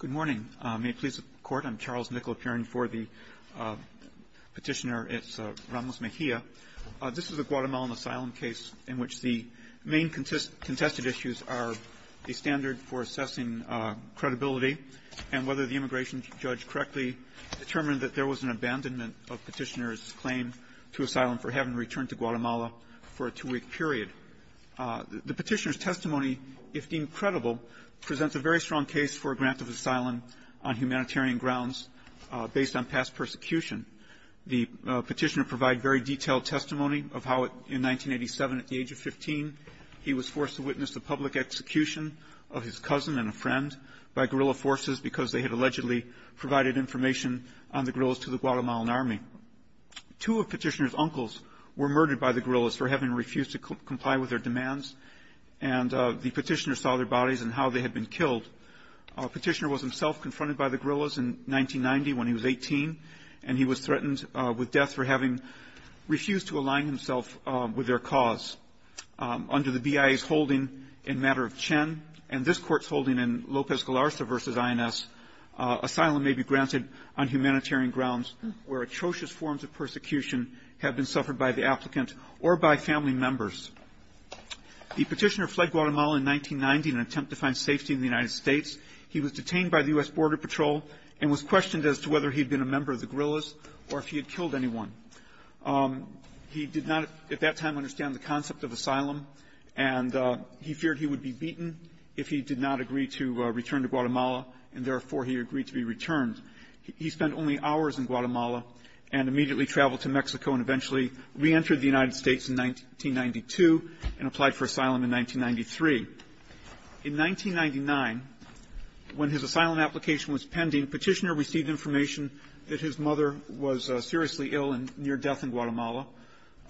Good morning. May it please the Court, I'm Charles Nickel appearing for the petitioner, it's Ramos Mejia. This is a Guatemalan asylum case in which the main contested issues are the standard for assessing credibility and whether the immigration judge correctly determined that there was an abandonment of petitioner's claim to asylum for having returned to Guatemala for a two-week period. The petitioner's testimony, if deemed credible, presents a very strong case for a grant of asylum on humanitarian grounds based on past persecution. The petitioner provided very detailed testimony of how in 1987, at the age of 15, he was forced to witness the public execution of his cousin and a friend by guerrilla forces because they had allegedly provided information on the guerrillas to the Guatemalan army. Two of petitioner's uncles were murdered by the guerrillas for having refused to comply with their demands, and the petitioner saw their bodies and how they had been killed. Petitioner was himself confronted by the guerrillas in 1990 when he was 18, and he was threatened with death for having refused to align himself with their cause. Under the BIA's holding in matter of Chen and this Court's holding in Lopez Galarza v. INS, asylum may be granted on humanitarian grounds where atrocious forms of persecution have been suffered by the applicant or by family members. The petitioner fled Guatemala in 1990 in an attempt to find safety in the United States. He was detained by the U.S. Border Patrol and was questioned as to whether he had been a member of the guerrillas or if he had killed anyone. He did not at that time understand the concept of asylum, and he feared he would be beaten if he did not agree to return to Guatemala, and therefore he agreed to be returned. He spent only hours in Guatemala and immediately traveled to Mexico and eventually reentered the United States in 1992 and applied for asylum in 1993. In 1999, when his asylum application was pending, petitioner received information that his mother was seriously ill and near death in Guatemala.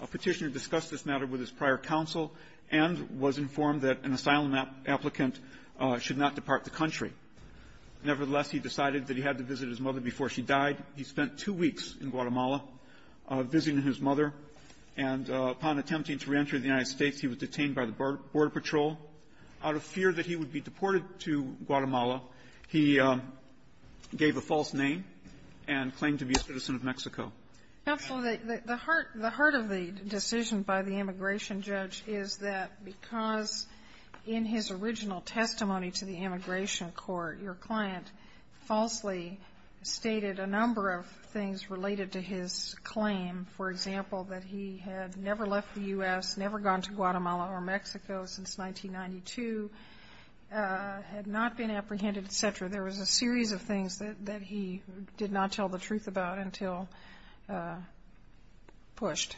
A petitioner discussed this matter with his prior counsel and was informed that an asylum applicant should not depart the country. Nevertheless, he decided that he had to visit his mother before she died. He spent two weeks in Guatemala visiting his mother, and upon attempting to reenter the United States, he was detained by the Border Patrol. Out of fear that he would be deported to Guatemala, he gave up his asylum. Counsel, the heart of the decision by the immigration judge is that because in his original testimony to the immigration court, your client falsely stated a number of things related to his claim. For example, that he had never left the U.S., never gone to Guatemala or Mexico things that he did not tell the truth about until pushed.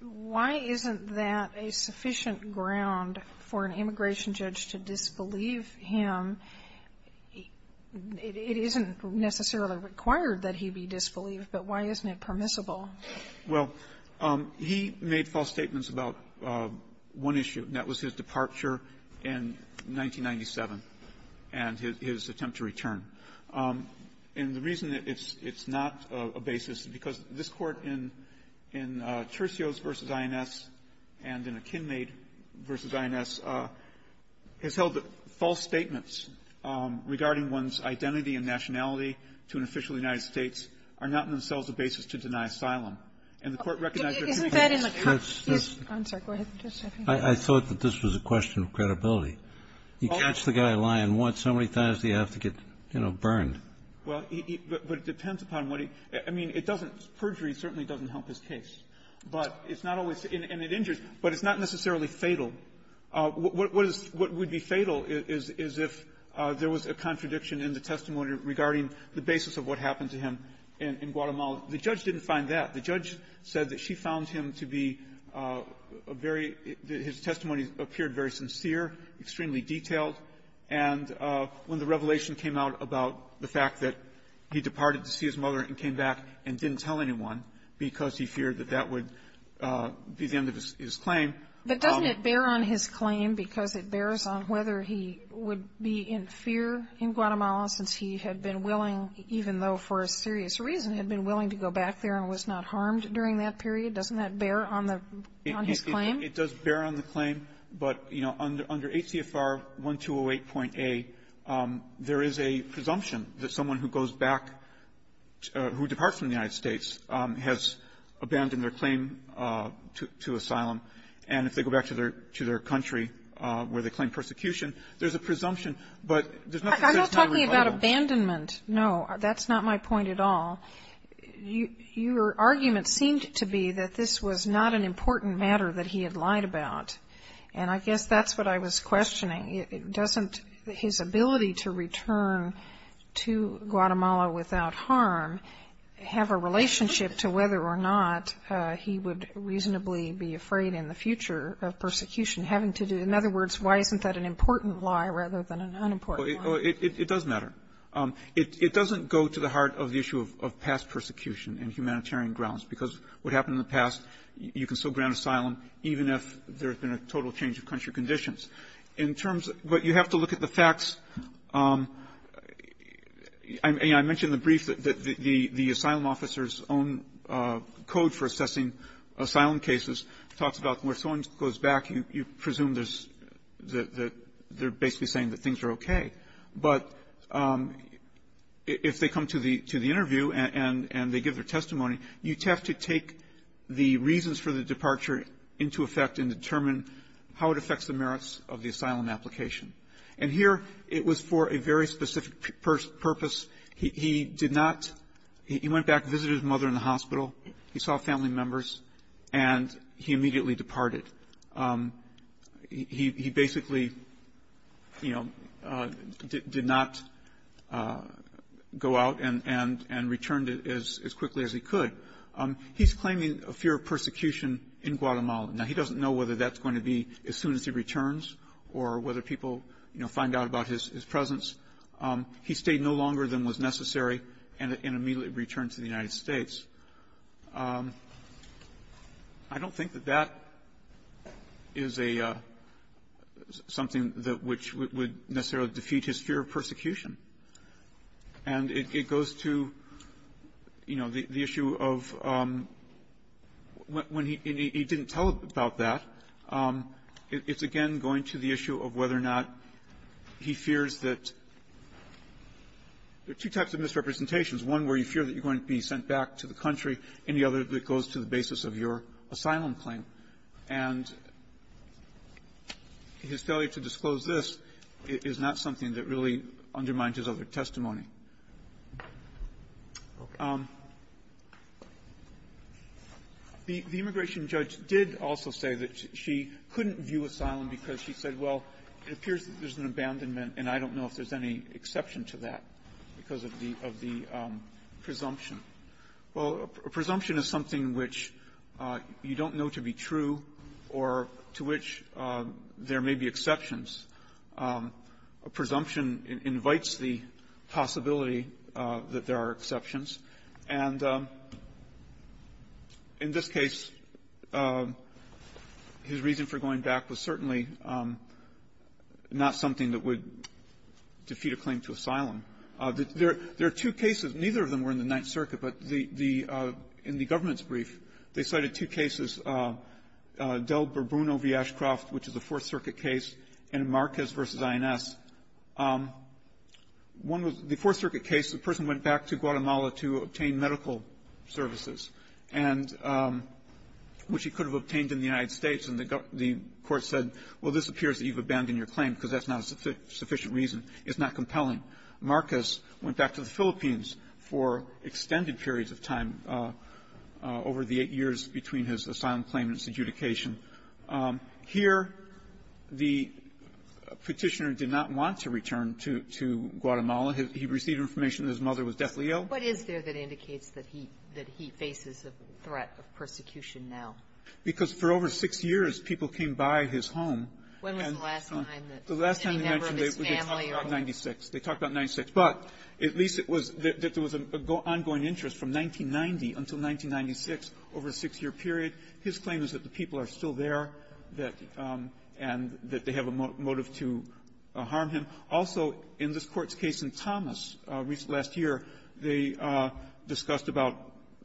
Why isn't that a sufficient ground for an immigration judge to disbelieve him? It isn't necessarily required that he be disbelieved, but why isn't it permissible? Well, he made false statements about one issue, and that was his departure in 1997 and his attempt to return. And the reason it's not a basis is because this Court in Tercios v. INS and in Akinmaid v. INS has held that false statements regarding one's identity and nationality to an official in the United States are not in themselves a basis to deny asylum. I'm sorry. Go ahead. I thought that this was a question of credibility. You catch the guy lying once, how many times do you have to get, you know, burned? Well, but it depends upon what he – I mean, it doesn't – perjury certainly doesn't help his case. But it's not always – and it injures, but it's not necessarily fatal. What is – what would be fatal is if there was a contradiction in the testimony regarding the basis of what happened to him in Guatemala. The judge didn't find that. The judge said that she found him to be a very – that his testimony appeared very sincere, extremely detailed. And when the revelation came out about the fact that he departed to see his mother and came back and didn't tell anyone because he feared that that would be the end of his claim. But doesn't it bear on his claim, because it bears on whether he would be in fear in Guatemala since he had been willing, even though for a serious reason, had been willing to go back there and was not harmed during that period? Doesn't that bear on the – on his claim? It does bear on the claim, but, you know, under ACFR 1208.A, there is a presumption that someone who goes back – who departs from the United States has abandoned their claim to – to asylum. And if they go back to their – to their country where they claim persecution, there's a presumption, but there's nothing that's not a rebuttal. I'm not talking about abandonment. No, that's not my point at all. Your argument seemed to be that this was not an important matter that he had lied about. And I guess that's what I was questioning. Doesn't his ability to return to Guatemala without harm have a relationship to whether or not he would reasonably be afraid in the future of persecution having to do – in other words, why isn't that an important lie rather than an unimportant lie? It does matter. It doesn't go to the heart of the issue of past persecution in humanitarian grounds, because what happened in the past, you can still grant asylum even if there's been a total change of country conditions. In terms of – but you have to look at the facts. I mentioned in the brief that the asylum officer's own code for assessing asylum cases talks about where someone goes back, you presume there's – they're basically saying that things are okay. But if they come to the interview and they give their testimony, you have to take the reasons for the departure into effect and determine how it affects the merits of the asylum application. And here it was for a very specific purpose. He did not – he went back, visited his mother in the hospital, he saw family members, and he immediately departed. He basically, you know, did not go out and – and returned as quickly as he could. He's claiming a fear of persecution in Guatemala. Now, he doesn't know whether that's going to be as soon as he returns or whether people, you know, find out about his presence. He stayed no longer than was necessary and immediately returned to the United States. I don't think that that is a – something that – which would necessarily defeat his fear of persecution. And it goes to, you know, the issue of when he – he didn't tell about that. It's again going to the issue of whether or not he fears that – there are two types of misrepresentations, one where you are going to be sent back to the country, and the other that goes to the basis of your asylum claim. And his failure to disclose this is not something that really undermines his other testimony. The immigration judge did also say that she couldn't view asylum because she said, well, it appears that there's an abandonment, and I don't know if there's any exception to that because of the – of the presumption. Well, a presumption is something which you don't know to be true or to which there may be exceptions. A presumption invites the possibility that there are exceptions. And in this case, his reason for going back was certainly not something that would defeat a claim to asylum. There are two cases. Neither of them were in the Ninth Circuit, but the – the – in the government's brief, they cited two cases, Del Burbuno v. Ashcroft, which is a Fourth Circuit case, and Marquez v. INS. One was the Fourth Circuit case. The person went back to Guatemala to obtain medical services, and – which he could have obtained in the United States, and the court said, well, this appears that you've got a reasonable reason. It's not compelling. Marquez went back to the Philippines for extended periods of time over the eight years between his asylum claim and his adjudication. Here, the Petitioner did not want to return to – to Guatemala. He received information that his mother was deathly ill. What is there that indicates that he – that he faces a threat of persecution now? Because for over six years, people came by his home. And the last time they mentioned it, they talked about 96. They talked about 96. But at least it was – that there was an ongoing interest from 1990 until 1996 over a six-year period. His claim is that the people are still there, that – and that they have a motive to harm him. Also, in this Court's case in Thomas last year, they discussed about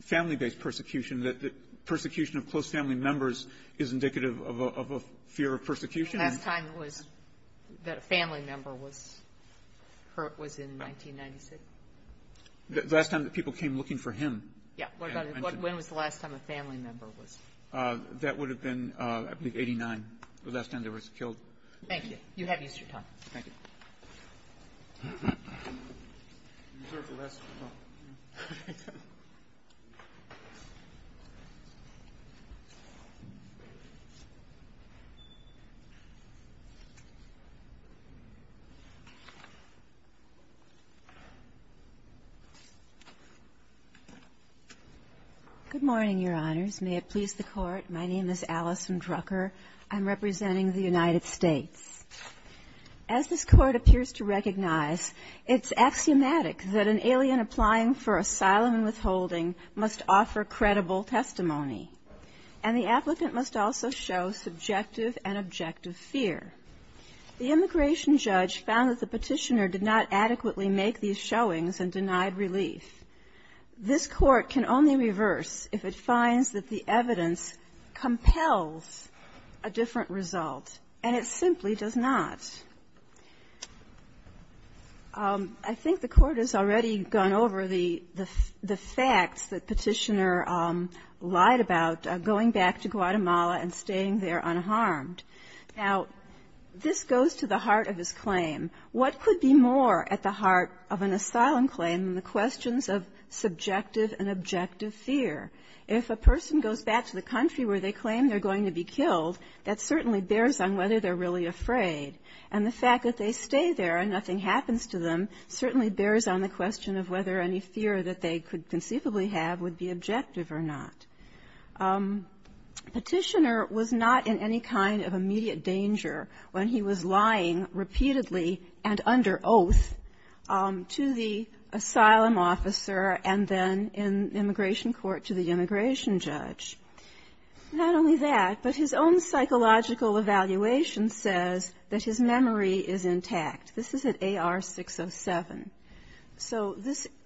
family-based persecution, that persecution of close family members is indicative of a fear of persecution. The last time it was that a family member was hurt was in 1996. The last time that people came looking for him? Yeah. When was the last time a family member was? That would have been, I believe, 89, the last time they were killed. Thank you. You have used your time. Thank you. Good morning, Your Honors. May it please the Court. My name is Alison Drucker. I'm representing the United States. As this Court appears to recognize, it's axiomatic that an alien applying for asylum and withholding must offer credible testimony, and the applicant must also show subjective and objective fear. The immigration judge found that the petitioner did not adequately make these showings and denied relief. This Court can only reverse if it finds that the evidence compels a different result, and it simply does not. I think the Court has already gone over the facts that the petitioner lied about, going back to Guatemala and staying there unharmed. Now, this goes to the heart of his claim. What could be more at the heart of an asylum claim than the questions of subjective and objective fear? If a person goes back to the country where they claim they're going to be killed, that certainly bears on whether they're really afraid. And the fact that they stay there and nothing happens to them certainly bears on the question of whether any fear that they could conceivably have would be objective or not. Petitioner was not in any kind of immediate danger when he was lying repeatedly and under oath to the asylum officer and then in immigration court to the immigration judge. Not only that, but his own psychological evaluation says that his memory is intact. This is at AR 607. So this –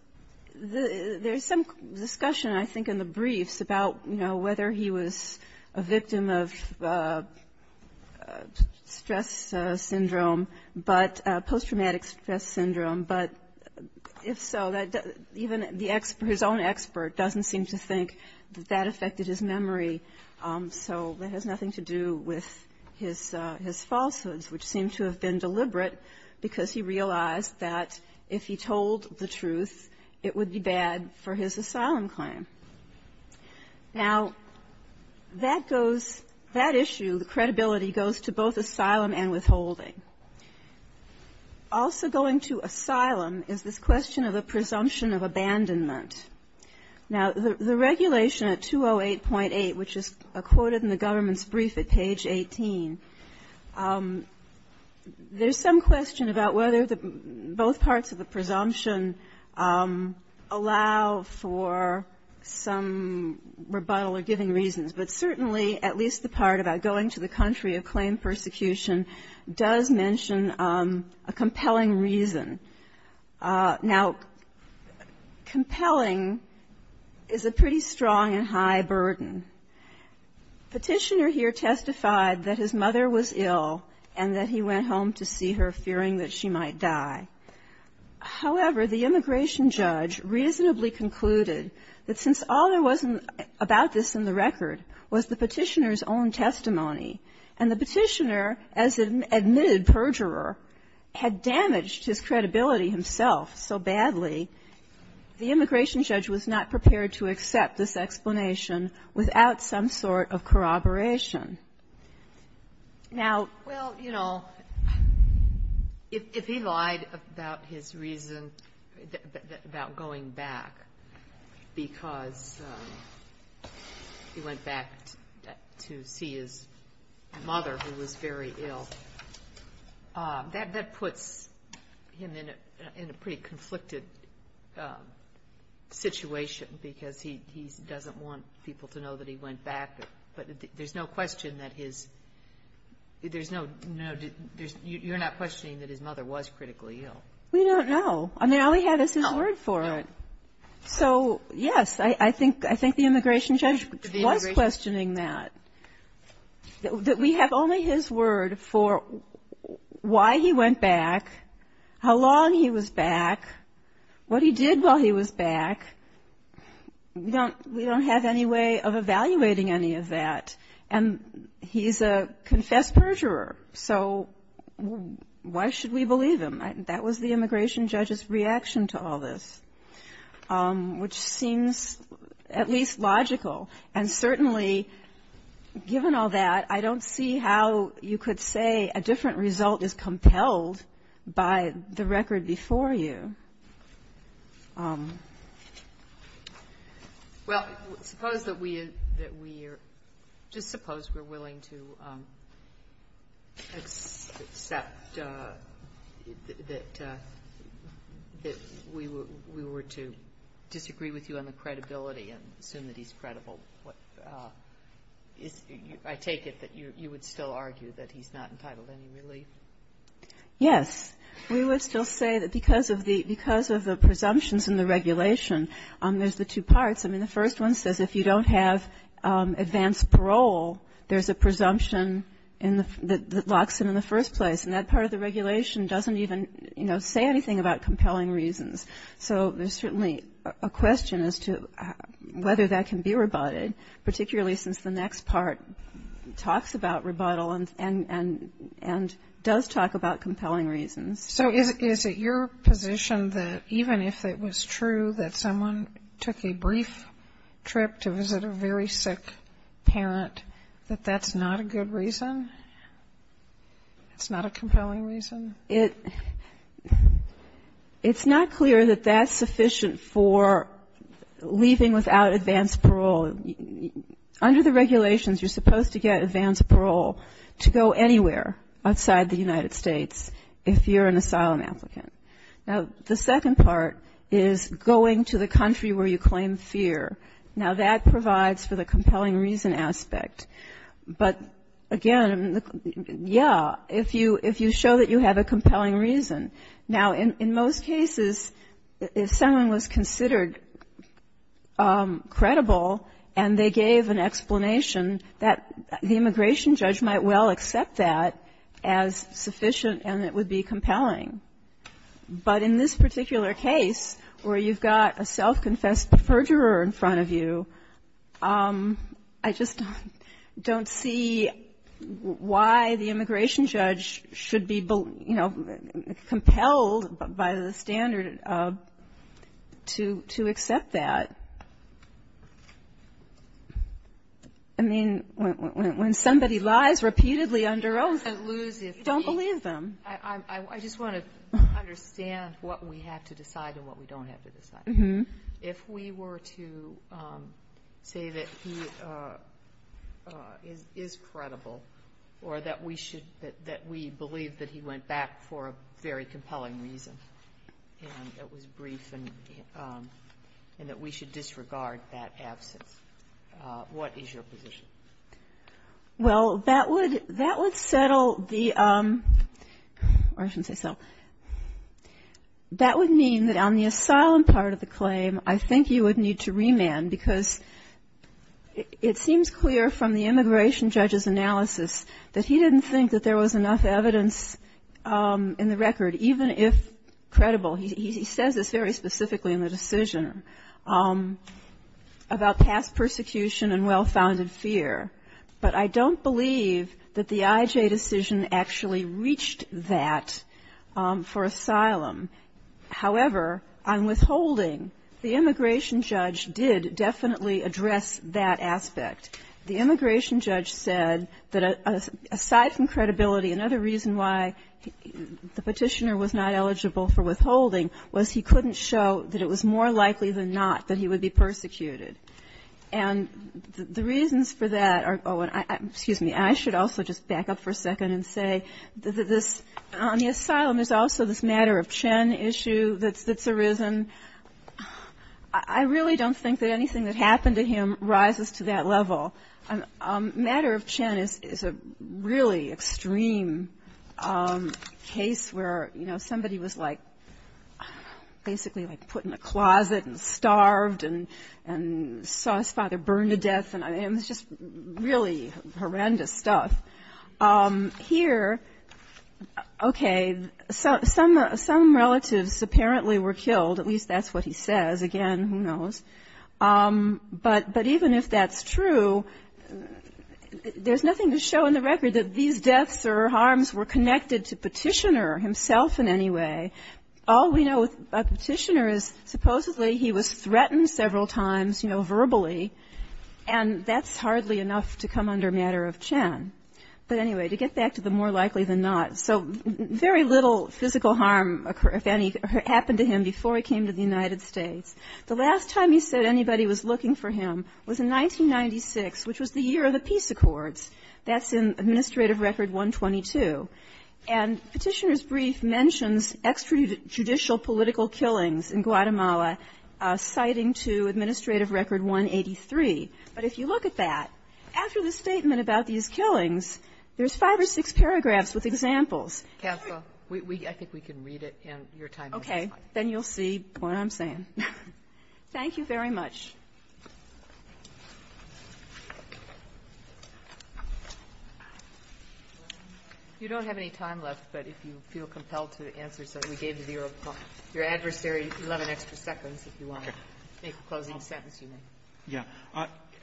there's some discussion, I think, in the briefs about, you know, whether he was a victim of stress syndrome, but – post-traumatic stress syndrome, but if so, even the – his own expert doesn't seem to think that that affected his memory. So that has nothing to do with his falsehoods, which seem to have been deliberate because he realized that if he told the truth, it would be bad for his asylum claim. Now, that goes – that issue, the credibility, goes to both asylum and withholding. Also going to asylum is this question of a presumption of abandonment. Now, the regulation at 208.8, which is quoted in the government's brief at page 18, there's some question about whether both parts of the presumption allow for some rebuttal or giving reasons, but certainly at least the part about going to the country of claim and persecution does mention a compelling reason. Now, compelling is a pretty strong and high burden. Petitioner here testified that his mother was ill and that he went home to see her fearing that she might die. However, the immigration judge reasonably concluded that since all there was about this in the record was the Petitioner's own testimony, and the Petitioner, as an admitted perjurer, had damaged his credibility himself so badly, the immigration judge was not prepared to accept this explanation without some sort of corroboration. Now – about his reason about going back because he went back to see his mother, who was very ill, that puts him in a pretty conflicted situation because he doesn't want people to know that he went back, but there's no question that his – there's no – you're not questioning that his mother was critically ill. We don't know. I mean, all we have is his word for it. No. So, yes, I think the immigration judge was questioning that, that we have only his word for why he went back, how long he was back, what he did while he was back. We don't have any way of evaluating any of that, and he's a confessed perjurer. So why should we believe him? That was the immigration judge's reaction to all this, which seems at least logical. And certainly, given all that, I don't see how you could say a different result is compelled by the record before you. Well, suppose that we – just suppose we're willing to accept that we were to disagree with you on the credibility and assume that he's credible. I take it that you would still argue that he's not entitled to any relief? Yes. We would still say that because of the presumptions in the regulation, there's the two parts. I mean, the first one says if you don't have advance parole, there's a presumption that locks him in the first place. And that part of the regulation doesn't even, you know, say anything about compelling reasons. So there's certainly a question as to whether that can be rebutted, particularly since the So is it your position that even if it was true that someone took a brief trip to visit a very sick parent, that that's not a good reason? It's not a compelling reason? It's not clear that that's sufficient for leaving without advance parole. Under the regulations, you're supposed to get advance parole to go anywhere outside the United States if you're an asylum applicant. Now, the second part is going to the country where you claim fear. Now, that provides for the compelling reason aspect. But again, yeah, if you show that you have a compelling reason. Now, in most cases, if someone was considered credible and they gave an explanation, that the immigration judge might well accept that as sufficient and it would be compelling. But in this particular case where you've got a self-confessed perjurer in front of you, I just don't see why the immigration judge should be, you know, compelled by the standard to accept that. I mean, when somebody lies repeatedly under oath, you don't believe them. I just want to understand what we have to decide and what we don't have to decide. If we were to say that he is credible or that we should, that we believe that he went back for a very compelling reason and it was brief and that we should disregard that absence, what is your position? Well, that would settle the, or I shouldn't say settle, that would mean that on the asylum part of the claim, I think you would need to remand because it seems clear from the immigration judge's analysis that he didn't think that there was enough evidence in the record, even if credible. He says this very specifically in the decision about past persecution and well-founded fear. But I don't believe that the IJ decision actually reached that for asylum. However, on withholding, the immigration judge did definitely address that aspect. The immigration judge said that aside from credibility, another reason why the Petitioner was not eligible for withholding was he couldn't show that it was more likely than not that he would be persecuted. And the reasons for that are, oh, and excuse me, I should also just back up for a second and say that this, on the asylum, there's also this matter of Chen issue that's arisen. I really don't think that anything that happened to him rises to that level. Matter of Chen is a really extreme case where, you know, somebody is trying to make a claim that somebody was, like, basically, like, put in a closet and starved and saw his father burn to death. And it's just really horrendous stuff. Here, okay, some relatives apparently were killed. At least that's what he says. Again, who knows. But even if that's true, there's nothing to show in the record that these deaths or harms were connected to Petitioner himself in any way. All we know about Petitioner is supposedly he was threatened several times, you know, verbally. And that's hardly enough to come under matter of Chen. But anyway, to get back to the more likely than not, so very little physical harm, if any, happened to him before he came to the United States. The last time he said anybody was looking for him was in 1996, which was the year of the Peace Accords. That's in Administrative Record 122. And Petitioner's brief mentions extrajudicial political killings in Guatemala, citing to Administrative Record 183. But if you look at that, after the statement about these killings, there's five or six paragraphs with examples. Katzla, I think we can read it, and your time is up. You don't have any time left, but if you feel compelled to answer something, we gave you your adversary 11 extra seconds if you want to make a closing sentence, you may. Yeah.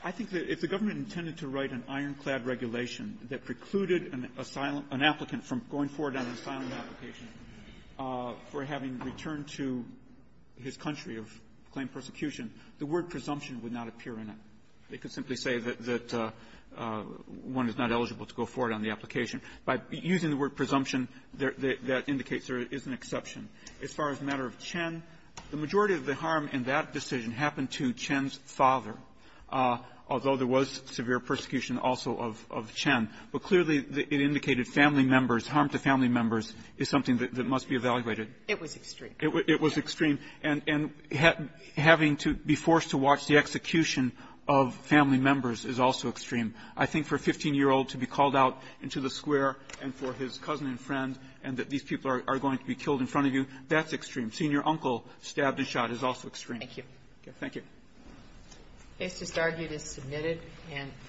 I think that if the government intended to write an ironclad regulation that precluded an asylum — an applicant from going forward on an asylum application for having returned to his country of claimed persecution, the word presumption would not appear in it. They could simply say that one is not eligible to go forward on the application. By using the word presumption, that indicates there is an exception. As far as the matter of Chen, the majority of the harm in that decision happened to Chen's father, although there was severe persecution also of Chen. But clearly, it indicated family members. Harm to family members is something that must be evaluated. It was extreme. And having to be forced to watch the execution of family members is also extreme. I think for a 15-year-old to be called out into the square and for his cousin and friend and that these people are going to be killed in front of you, that's extreme. Seeing your uncle stabbed and shot is also extreme. Thank you. Thank you.